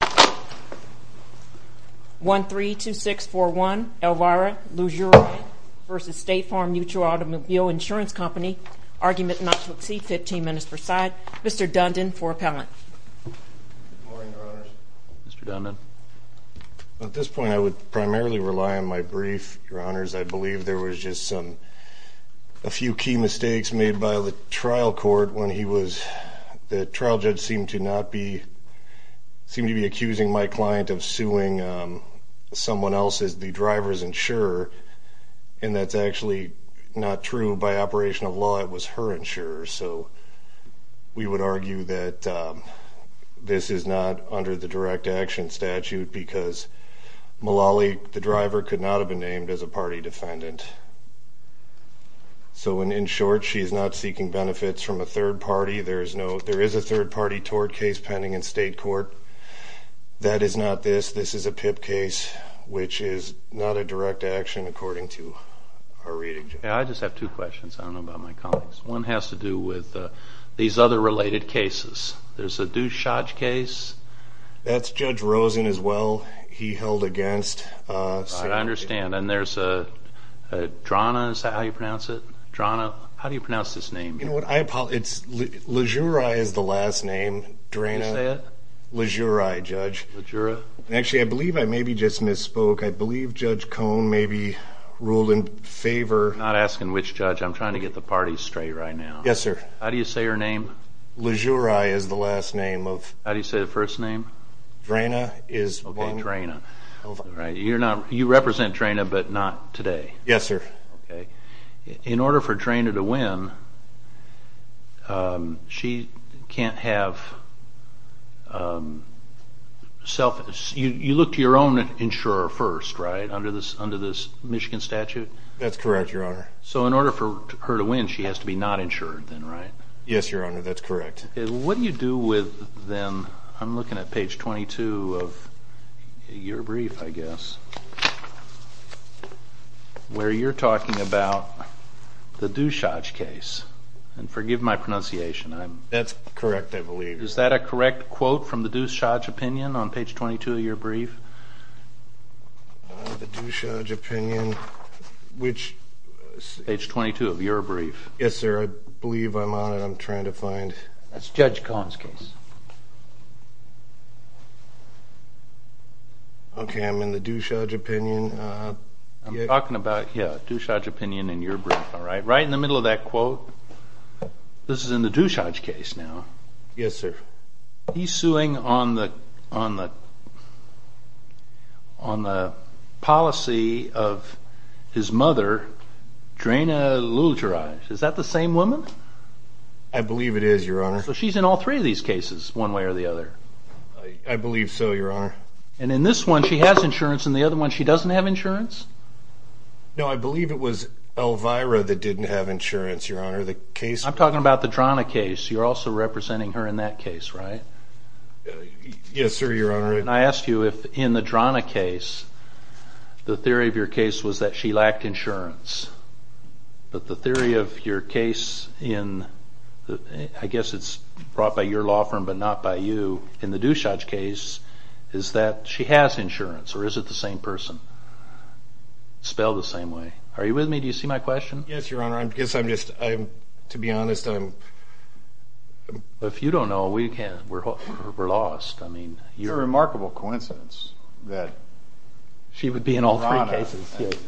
argument not to exceed 15 Mr. Dundon for appellant. Mr. Dundon. At this point I would primarily rely on my brief. Your honors, I believe there was just some a few key mistakes made by the trial court when he was the trial judge seemed to not be accusing my client of suing someone else's the driver's insurer. And that's actually not true. By operation of law, it was her insurer. So we would argue that this is not under the direct action statute because Malali, the driver, could not have been named as a party defendant. So in short, she is not seeking benefits from a third party tort case pending in state court. That is not this. This is a PIP case, which is not a direct action according to our reading. I just have two questions. I don't know about my colleagues. One has to do with these other related cases. There's a Dushaj case. That's Judge Rosen as well. He held against. I understand. And there's a Drana. Is that how you pronounce it? Drana. How do you pronounce this name? It's Lajuraj is the last name. Drana. Lajuraj, Judge. Lajuraj. Actually, I believe I maybe just misspoke. I believe Judge Cone maybe ruled in favor. I'm not asking which judge. I'm trying to get the parties straight right now. Yes, sir. How do you say her name? Lajuraj is the last name of. How do you say the first name? Drana is one. Okay, Drana. You represent Drana, but not today. Yes, sir. In order for Drana to win, she can't have self. You look to your own insurer first, right? Under this Michigan statute? That's correct, Your Honor. So in order for her to win, she has to be not insured then, right? Yes, Your Honor. That's correct. What do you do with them? I'm looking at page 22 of your brief, I guess, where you're talking about the Dushaj case. Forgive my pronunciation. That's correct, I believe. Is that a correct quote from the Dushaj opinion on page 22 of your brief? The Dushaj opinion, which. Page 22 of your brief. Yes, sir. I believe I'm on it. I'm trying to find. That's Judge Kahn's case. Okay, I'm in the Dushaj opinion. I'm talking about the Dushaj opinion in your brief, all right? Right in the middle of that quote. This is in the Dushaj case now. Yes, sir. He's suing on the policy of his mother, Draina Lulgeraj. Is that the same woman? I believe it is, Your Honor. So she's in all three of these cases, one way or the other? I believe so, Your Honor. And in this one, she has insurance. In the other one, she doesn't have insurance? No, I believe it was Elvira that didn't have insurance, Your Honor. The case. I'm talking about the Drana case. You're also asking if in the Drana case, the theory of your case was that she lacked insurance. But the theory of your case in, I guess it's brought by your law firm but not by you, in the Dushaj case, is that she has insurance or is it the same person? Spelled the same way. Are you with me? Do you see my question? Yes, Your Honor. I guess I'm just, to be honest, I'm If you don't know, we're lost. It's a remarkable coincidence that Draina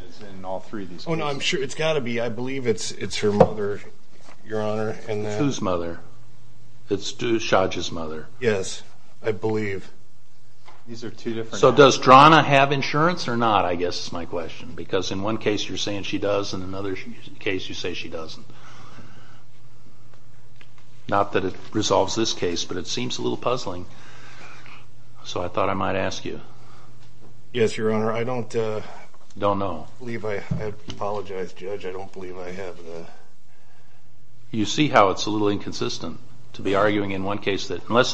is in all three of these cases. Oh no, I'm sure, it's got to be, I believe it's her mother, Your Honor. Whose mother? Dushaj's mother? Yes, I believe. So does Draina have insurance or not, I guess is my question, because in one case you're saying she doesn't. Not that it resolves this case, but it seems a little puzzling. So I thought I might ask you. Yes, Your Honor. I don't believe, I apologize, Judge, I don't believe I have You see how it's a little inconsistent to be arguing in one case that unless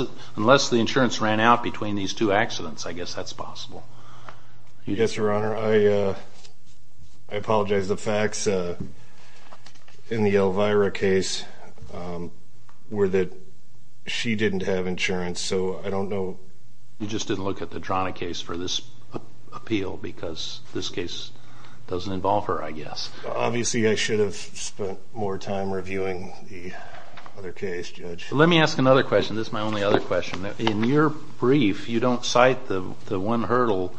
the insurance ran out between these two accidents, I guess that's possible. Yes, Your Honor, I apologize. The facts in the Elvira case were that she didn't have insurance, so I don't know. You just didn't look at the Draina case for this appeal because this case doesn't involve her, I guess. Obviously I should have spent more time reviewing the other case, Judge. Let me ask another question. This is my only other question. In your brief, you don't cite the one hurdle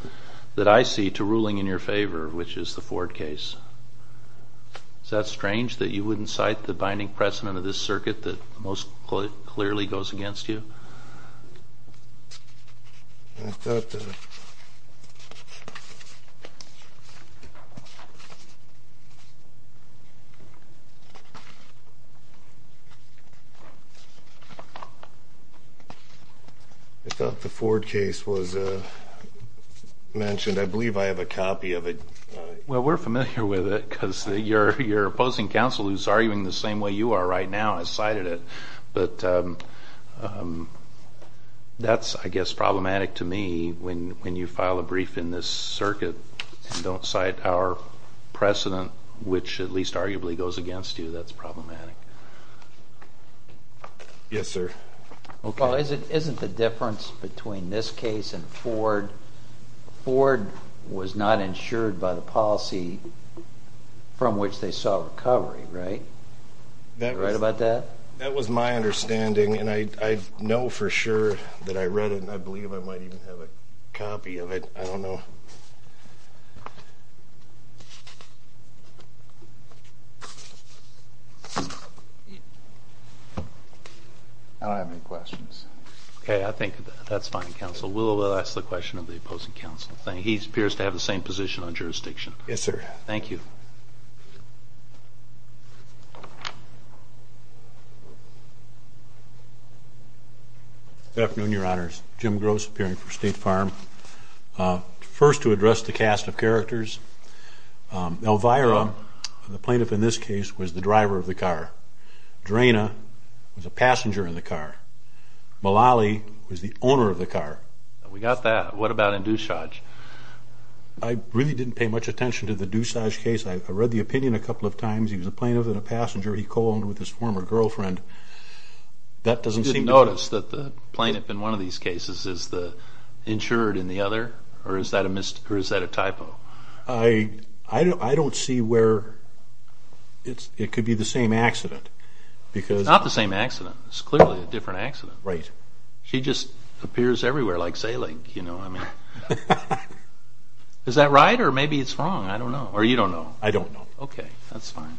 that I see to ruling in your favor, which is the Ford case. Is that strange that you wouldn't cite the binding precedent of this circuit that most clearly goes against you? I thought the Ford case was mentioned. I believe I have a copy of it. Well, we're familiar with it because you're opposing counsel who's arguing the same way you are right now, has cited it. But that's, I guess, problematic to me when you file a brief in this circuit and don't cite our precedent, which at least arguably goes against you. That's problematic. Isn't the difference between this case and Ford... Ford was not insured by the policy from which they saw recovery, right? Right about that? That was my understanding, and I know for sure that I read it, and I believe I might even have a copy of it. I don't know. I don't have any questions. Okay, I think that's fine, counsel. We'll ask the question of the opposing counsel. He appears to have the same position on jurisdiction. Yes, sir. Thank you. Good afternoon, Your Honors. Jim Gross, appearing for State Farm. First, to address the cast of characters, Elvira, the plaintiff in this case, was the driver of the car. Draina was a passenger in the car. Malali was the owner of the car. We got that. What about in Doussage? I really didn't pay much attention to the passenger he co-owned with his former girlfriend. I didn't notice that the plaintiff in one of these cases is the insured in the other, or is that a typo? I don't see where it could be the same accident. It's not the same accident. It's clearly a different accident. She just appears everywhere like sailing. Is that right, or maybe it's wrong? I don't know. I don't know. Okay, that's fine.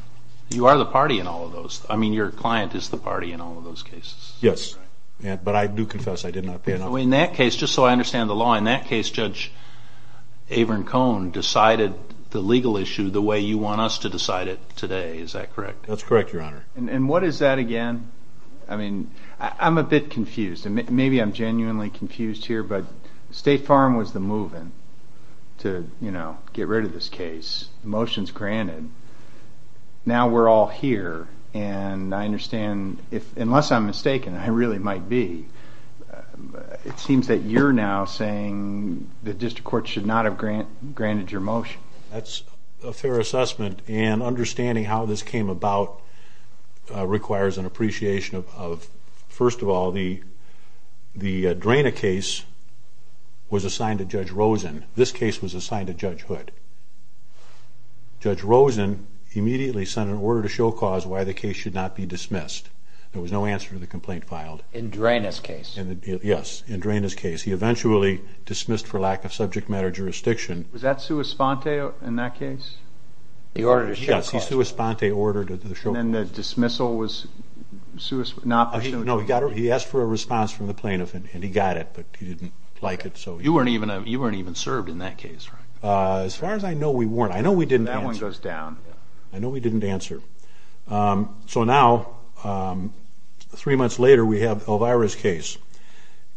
You are the party in all of those. I mean, your client is the party in all of those cases. Yes, but I do confess I did not pay enough attention. In that case, Judge Averin Cohn decided the legal issue the way you want us to decide it today. Is that correct? That's correct, Your Honor. And what is that again? I mean, I'm a bit confused. Maybe I'm genuinely confused here, but State Farm was the move-in to get rid of this case. The motion's granted. Now we're all here, and I understand, unless I'm mistaken, I really might be, it seems that you're now saying the District Court should not have granted your motion. That's a fair assessment, and understanding how this came about requires an appreciation of, first of all, the Drana case was assigned to Judge Rosen. This case was assigned to Judge Hood. Judge Rosen immediately sent an order to show cause why the case should not be dismissed. There was no answer to the complaint filed. In Drana's case? Yes, in Drana's case. He eventually dismissed for lack of subject matter jurisdiction. Was that Sua Sponte in that case? Yes, Sua Sponte ordered it. And then the dismissal was not pursued? No, he asked for a response from the plaintiff, and he got it, but he didn't like it. You weren't even served in that case, right? As far as I know, we weren't. I know we didn't answer. That one goes down. I know we didn't answer. So now, three months later, we have Elvira's case,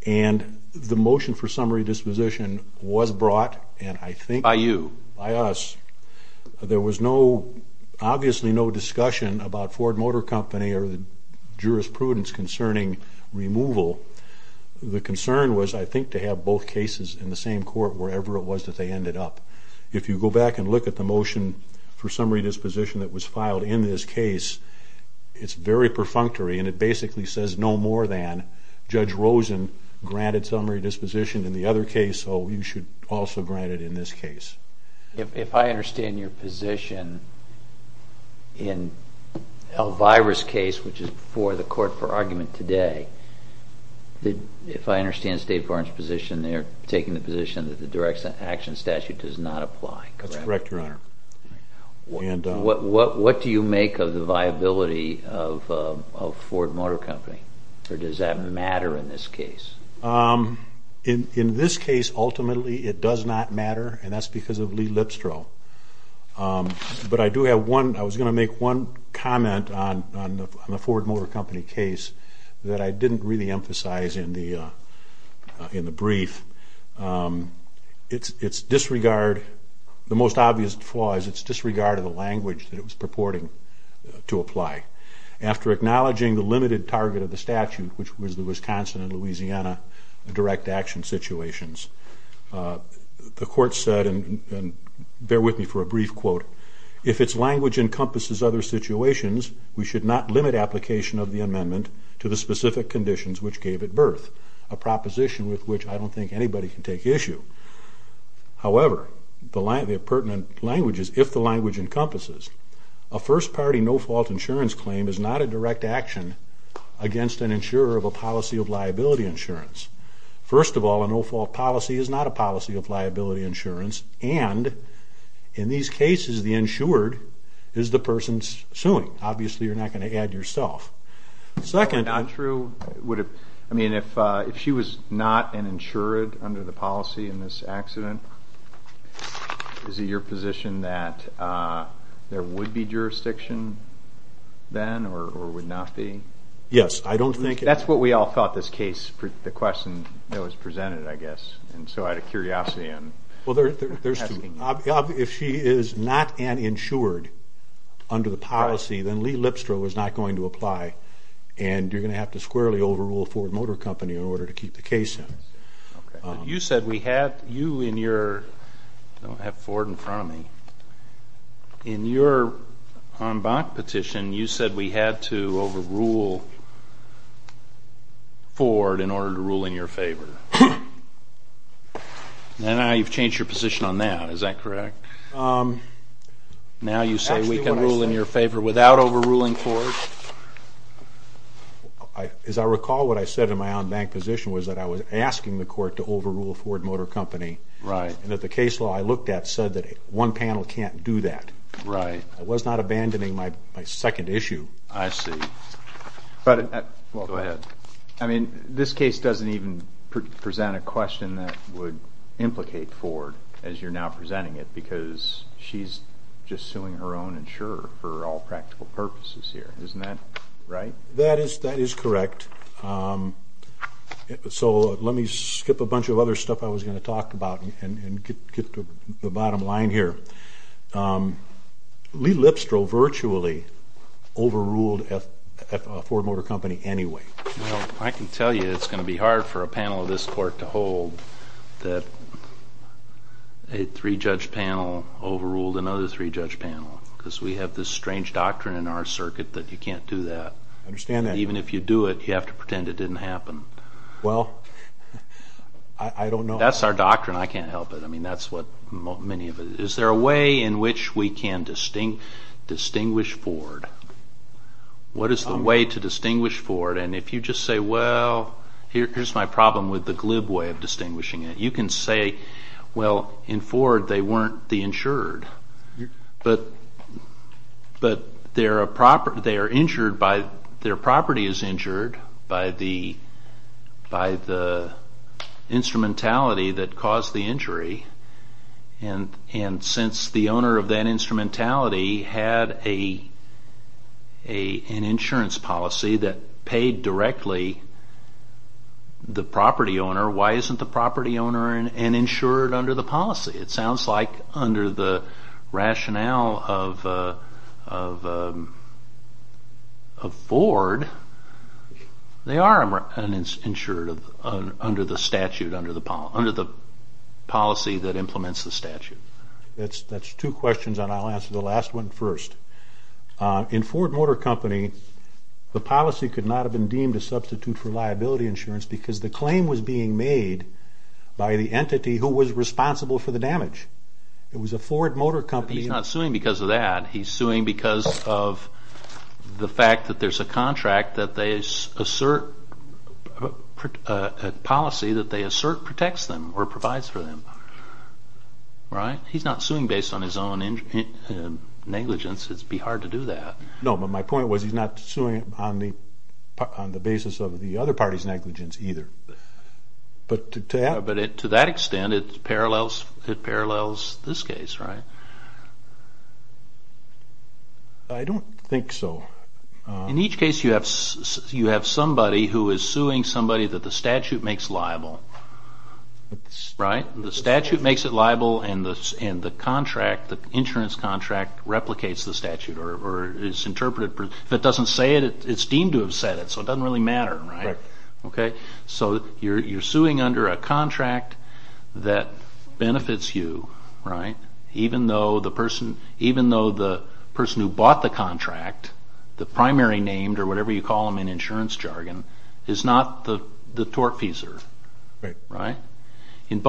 and the motion for summary disposition was brought, and I think... By you? By us. There was no, obviously no discussion about Ford Motor Company or the jurisprudence concerning removal. The concern was, I think, to have both cases in the same court, wherever it was that they ended up. If you go back and look at the motion for summary disposition that was filed in this case, it's very perfunctory, and it basically says no more than Judge Rosen granted summary disposition in the other case, so you should also grant it in this case. If I understand your position in Elvira's case, which is before the court for argument today, if I understand State Farm's position there, taking the position that the direct action statute does not apply, correct? That's correct, Your Honor. What do you make of the viability of Ford Motor Company, or does that matter in this case? In this case, ultimately, it does not matter, and that's because of Lee Lipstro. But I do have one... I was going to make one comment on the Ford Motor Company case that I didn't really emphasize in the brief. It's disregard... the most obvious flaw is it's disregard of the language that it was purporting to apply. After acknowledging the limited target of the statute, which was the Wisconsin and Louisiana direct action situations, the court said, and bear with me for a brief quote, we should not limit application of the amendment to the specific conditions which gave it birth, a proposition with which I don't think anybody can take issue. However, the pertinent language is, if the language encompasses, against an insurer of a policy of liability insurance. First of all, a no-fault policy is not a policy of liability insurance, and in these cases, the insured is the person suing. Obviously, you're not going to add yourself. Second... I mean, if she was not an insured under the policy in this accident, is it your position that there would be jurisdiction then, or would not be? Yes, I don't think... That's what we all thought this case... the question that was presented, I guess, and so I had a curiosity in... Well, there's two. If she is not an insured under the policy, then Lee Lipstro is not going to apply, and you're going to have to squarely overrule Ford Motor Company in order to keep the case in. You said we had... you and your... I don't have Ford in front of me. In your on-bank petition, you said we had to overrule Ford in order to rule in your favor. Now you've changed your position on that. Is that correct? Now you say we can rule in your favor without overruling Ford? As I recall, what I said in my on-bank position was that I was asking the court to overrule Ford Motor Company, and that the case law I looked at said that one panel can't do that. I was not abandoning my second issue. I see. Go ahead. I mean, this case doesn't even present a question that would implicate Ford, as you're now presenting it, because she's just suing her own insurer for all practical purposes here. Isn't that correct? So let me skip a bunch of other stuff I was going to talk about and get to the bottom line here. Lee Lipstro virtually overruled Ford Motor Company anyway. Well, I can tell you it's going to be hard for a panel of this court to hold that a three-judge panel overruled another three-judge panel, because we have this strange doctrine in our circuit that you can't do that. Even if you do it, you have to pretend it didn't happen. That's our doctrine. I can't help it. Is there a way in which we can distinguish Ford? What is the way to distinguish Ford? And if you just say, well, here's my problem with the glib way of distinguishing it, you can say, well, in Ford, they weren't the insured, but their property is injured by the instrumentality that caused the injury, and since the owner of that instrumentality had an insurance policy that paid directly the property owner, why isn't the property owner an insured under the policy? It sounds like under the rationale of Ford, they are an insured under the policy that implements the statute. That's two questions, and I'll answer the last one first. In Ford Motor Company, the policy could not have been deemed a substitute for liability insurance because the claim was being made by the entity who was responsible for the damage. It was a Ford Motor Company... He's not suing because of that. He's suing because of the fact that there's a contract that they assert, a policy that they assert protects them, or provides for them. He's not suing based on his own negligence. It'd be hard to do that. No, but my point was he's not suing on the basis of the other party's negligence either. To that extent, it parallels this case, right? I don't think so. In each case, you have somebody who is suing somebody that the statute makes liable. The statute makes it liable, and the insurance contract replicates the statute, or is interpreted. If it doesn't say it, it's deemed to have said it, so it doesn't really matter. You're suing under a contract that benefits you, even though the person who bought the contract, the primary named, or whatever you call them in insurance jargon, is not the tortfeasor. In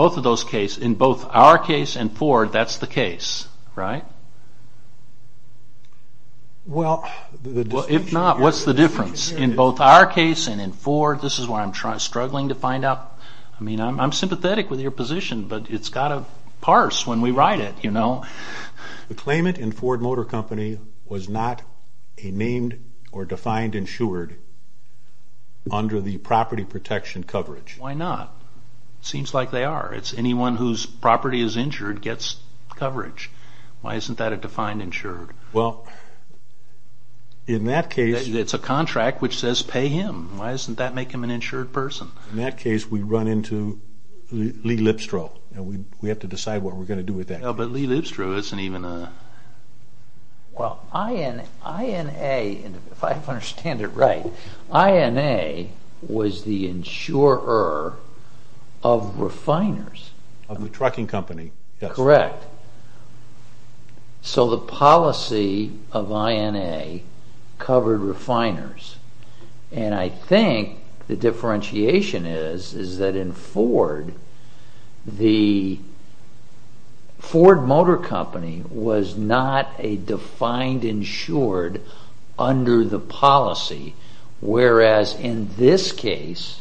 both our case and Ford, that's the case, right? If not, what's the difference? In both our case and in Ford, this is where I'm struggling to find out. I'm sympathetic with your position, but it's got to parse when we write it. The claimant in Ford Motor Company was not a named or defined insured under the property protection coverage. Why not? It seems like they are. It's anyone whose property is insured gets coverage. Why isn't that a defined insured? It's a contract which says pay him. Why doesn't that make him an insured person? In that case, we run into Lee Lipstro. We have to decide what we're going to do with that. But Lee Lipstro isn't even a... If I understand it right, INA was the insurer of refiners. Of the trucking company, yes. The policy of INA covered refiners. I think the differentiation is that in Ford, the Ford Motor Company was not a defined insured under the policy, whereas in this case,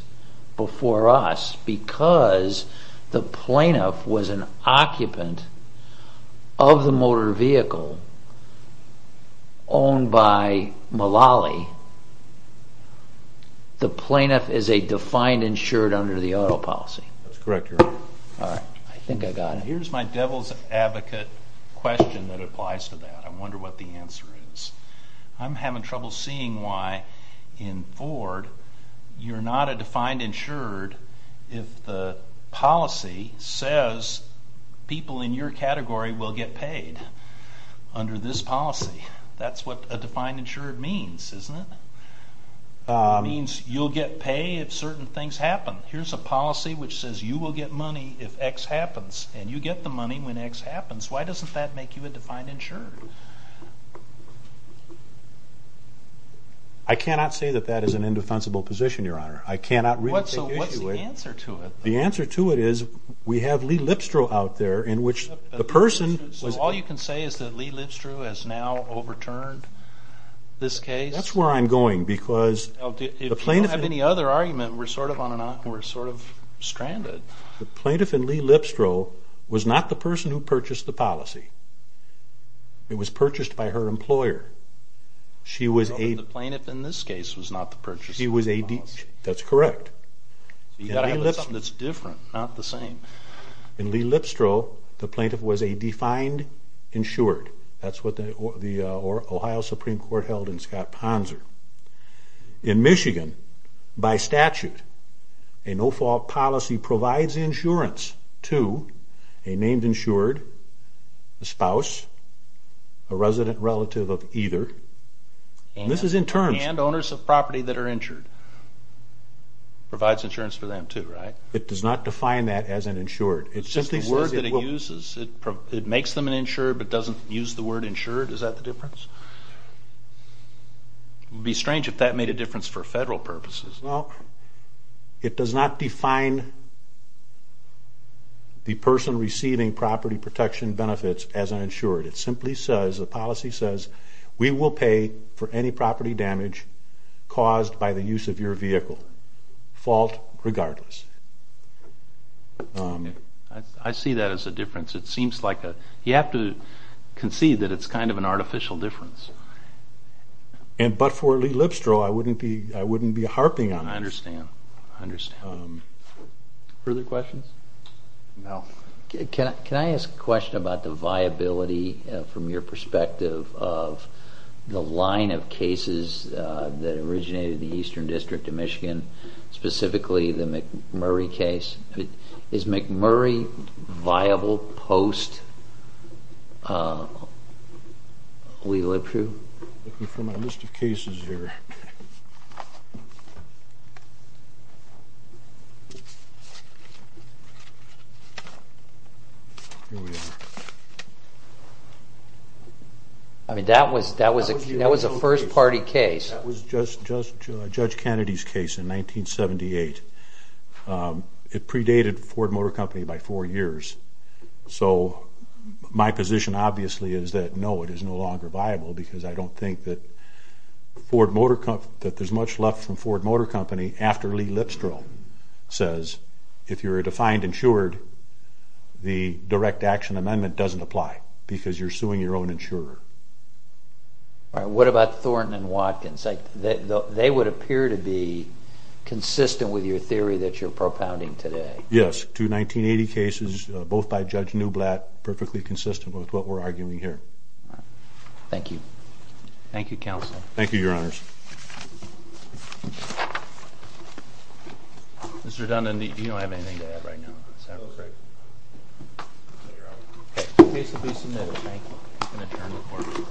before us, because the plaintiff was an occupant of the motor vehicle owned by Mullally, the plaintiff is a defined insured under the auto policy. Here's my devil's advocate question that applies to that. I wonder what the answer is. I'm having trouble seeing why in Ford you're not a defined insured if the policy says people in your category will get paid under this policy. That's what a defined insured means, isn't it? It means you'll get paid if certain things happen. Here's a policy which says you will get money if X happens, and you get the money when X happens. Why doesn't that make you a defined insured? I cannot say that that is an indefensible position, Your Honor. So what's the answer to it? All you can say is that Lee Lipstrow has now overturned this case? That's where I'm going. If you don't have any other argument, we're sort of stranded. The plaintiff in Lee Lipstrow was not the person who purchased the policy. It was purchased by her employer. The plaintiff in this case was not the person who purchased the policy? That's correct. In Lee Lipstrow, the plaintiff was a defined insured. That's what the Ohio Supreme Court held in Scott Ponser. In Michigan, by statute, a no-fault policy provides insurance to a named insured, a spouse, a resident relative of either. And owners of property that are insured. It does not define that as an insured. It's just the word that it uses. It makes them an insured but doesn't use the word insured? Is that the difference? It would be strange if that made a difference for federal purposes. It does not define the person receiving property protection benefits as an insured. It simply says, the policy says, we will pay for any property damage caused by the use of your vehicle, fault regardless. I see that as a difference. You have to concede that it's kind of an artificial difference. But for Lee Lipstrow, I wouldn't be harping on that. Further questions? Can I ask a question about the viability from your perspective of the line of cases that originated in the Eastern District of Michigan? Specifically the McMurray case. Is McMurray viable post Lee Lipstrow? Looking for my list of cases here. Here we are. That was a first party case. That was Judge Kennedy's case in 1978. It predated Ford Motor Company by four years. My position is that no, it is no longer viable because I don't think that there's much left from Ford Motor Company after Lee Lipstrow says, if you're a defined insured, the direct action amendment doesn't apply because you're suing your own insurer. What about Thornton and Watkins? They would appear to be consistent with your theory that you're propounding today. Yes, two 1980 cases, both by Judge Newblatt, perfectly consistent with what we're arguing here. Thank you. Thank you, Your Honors.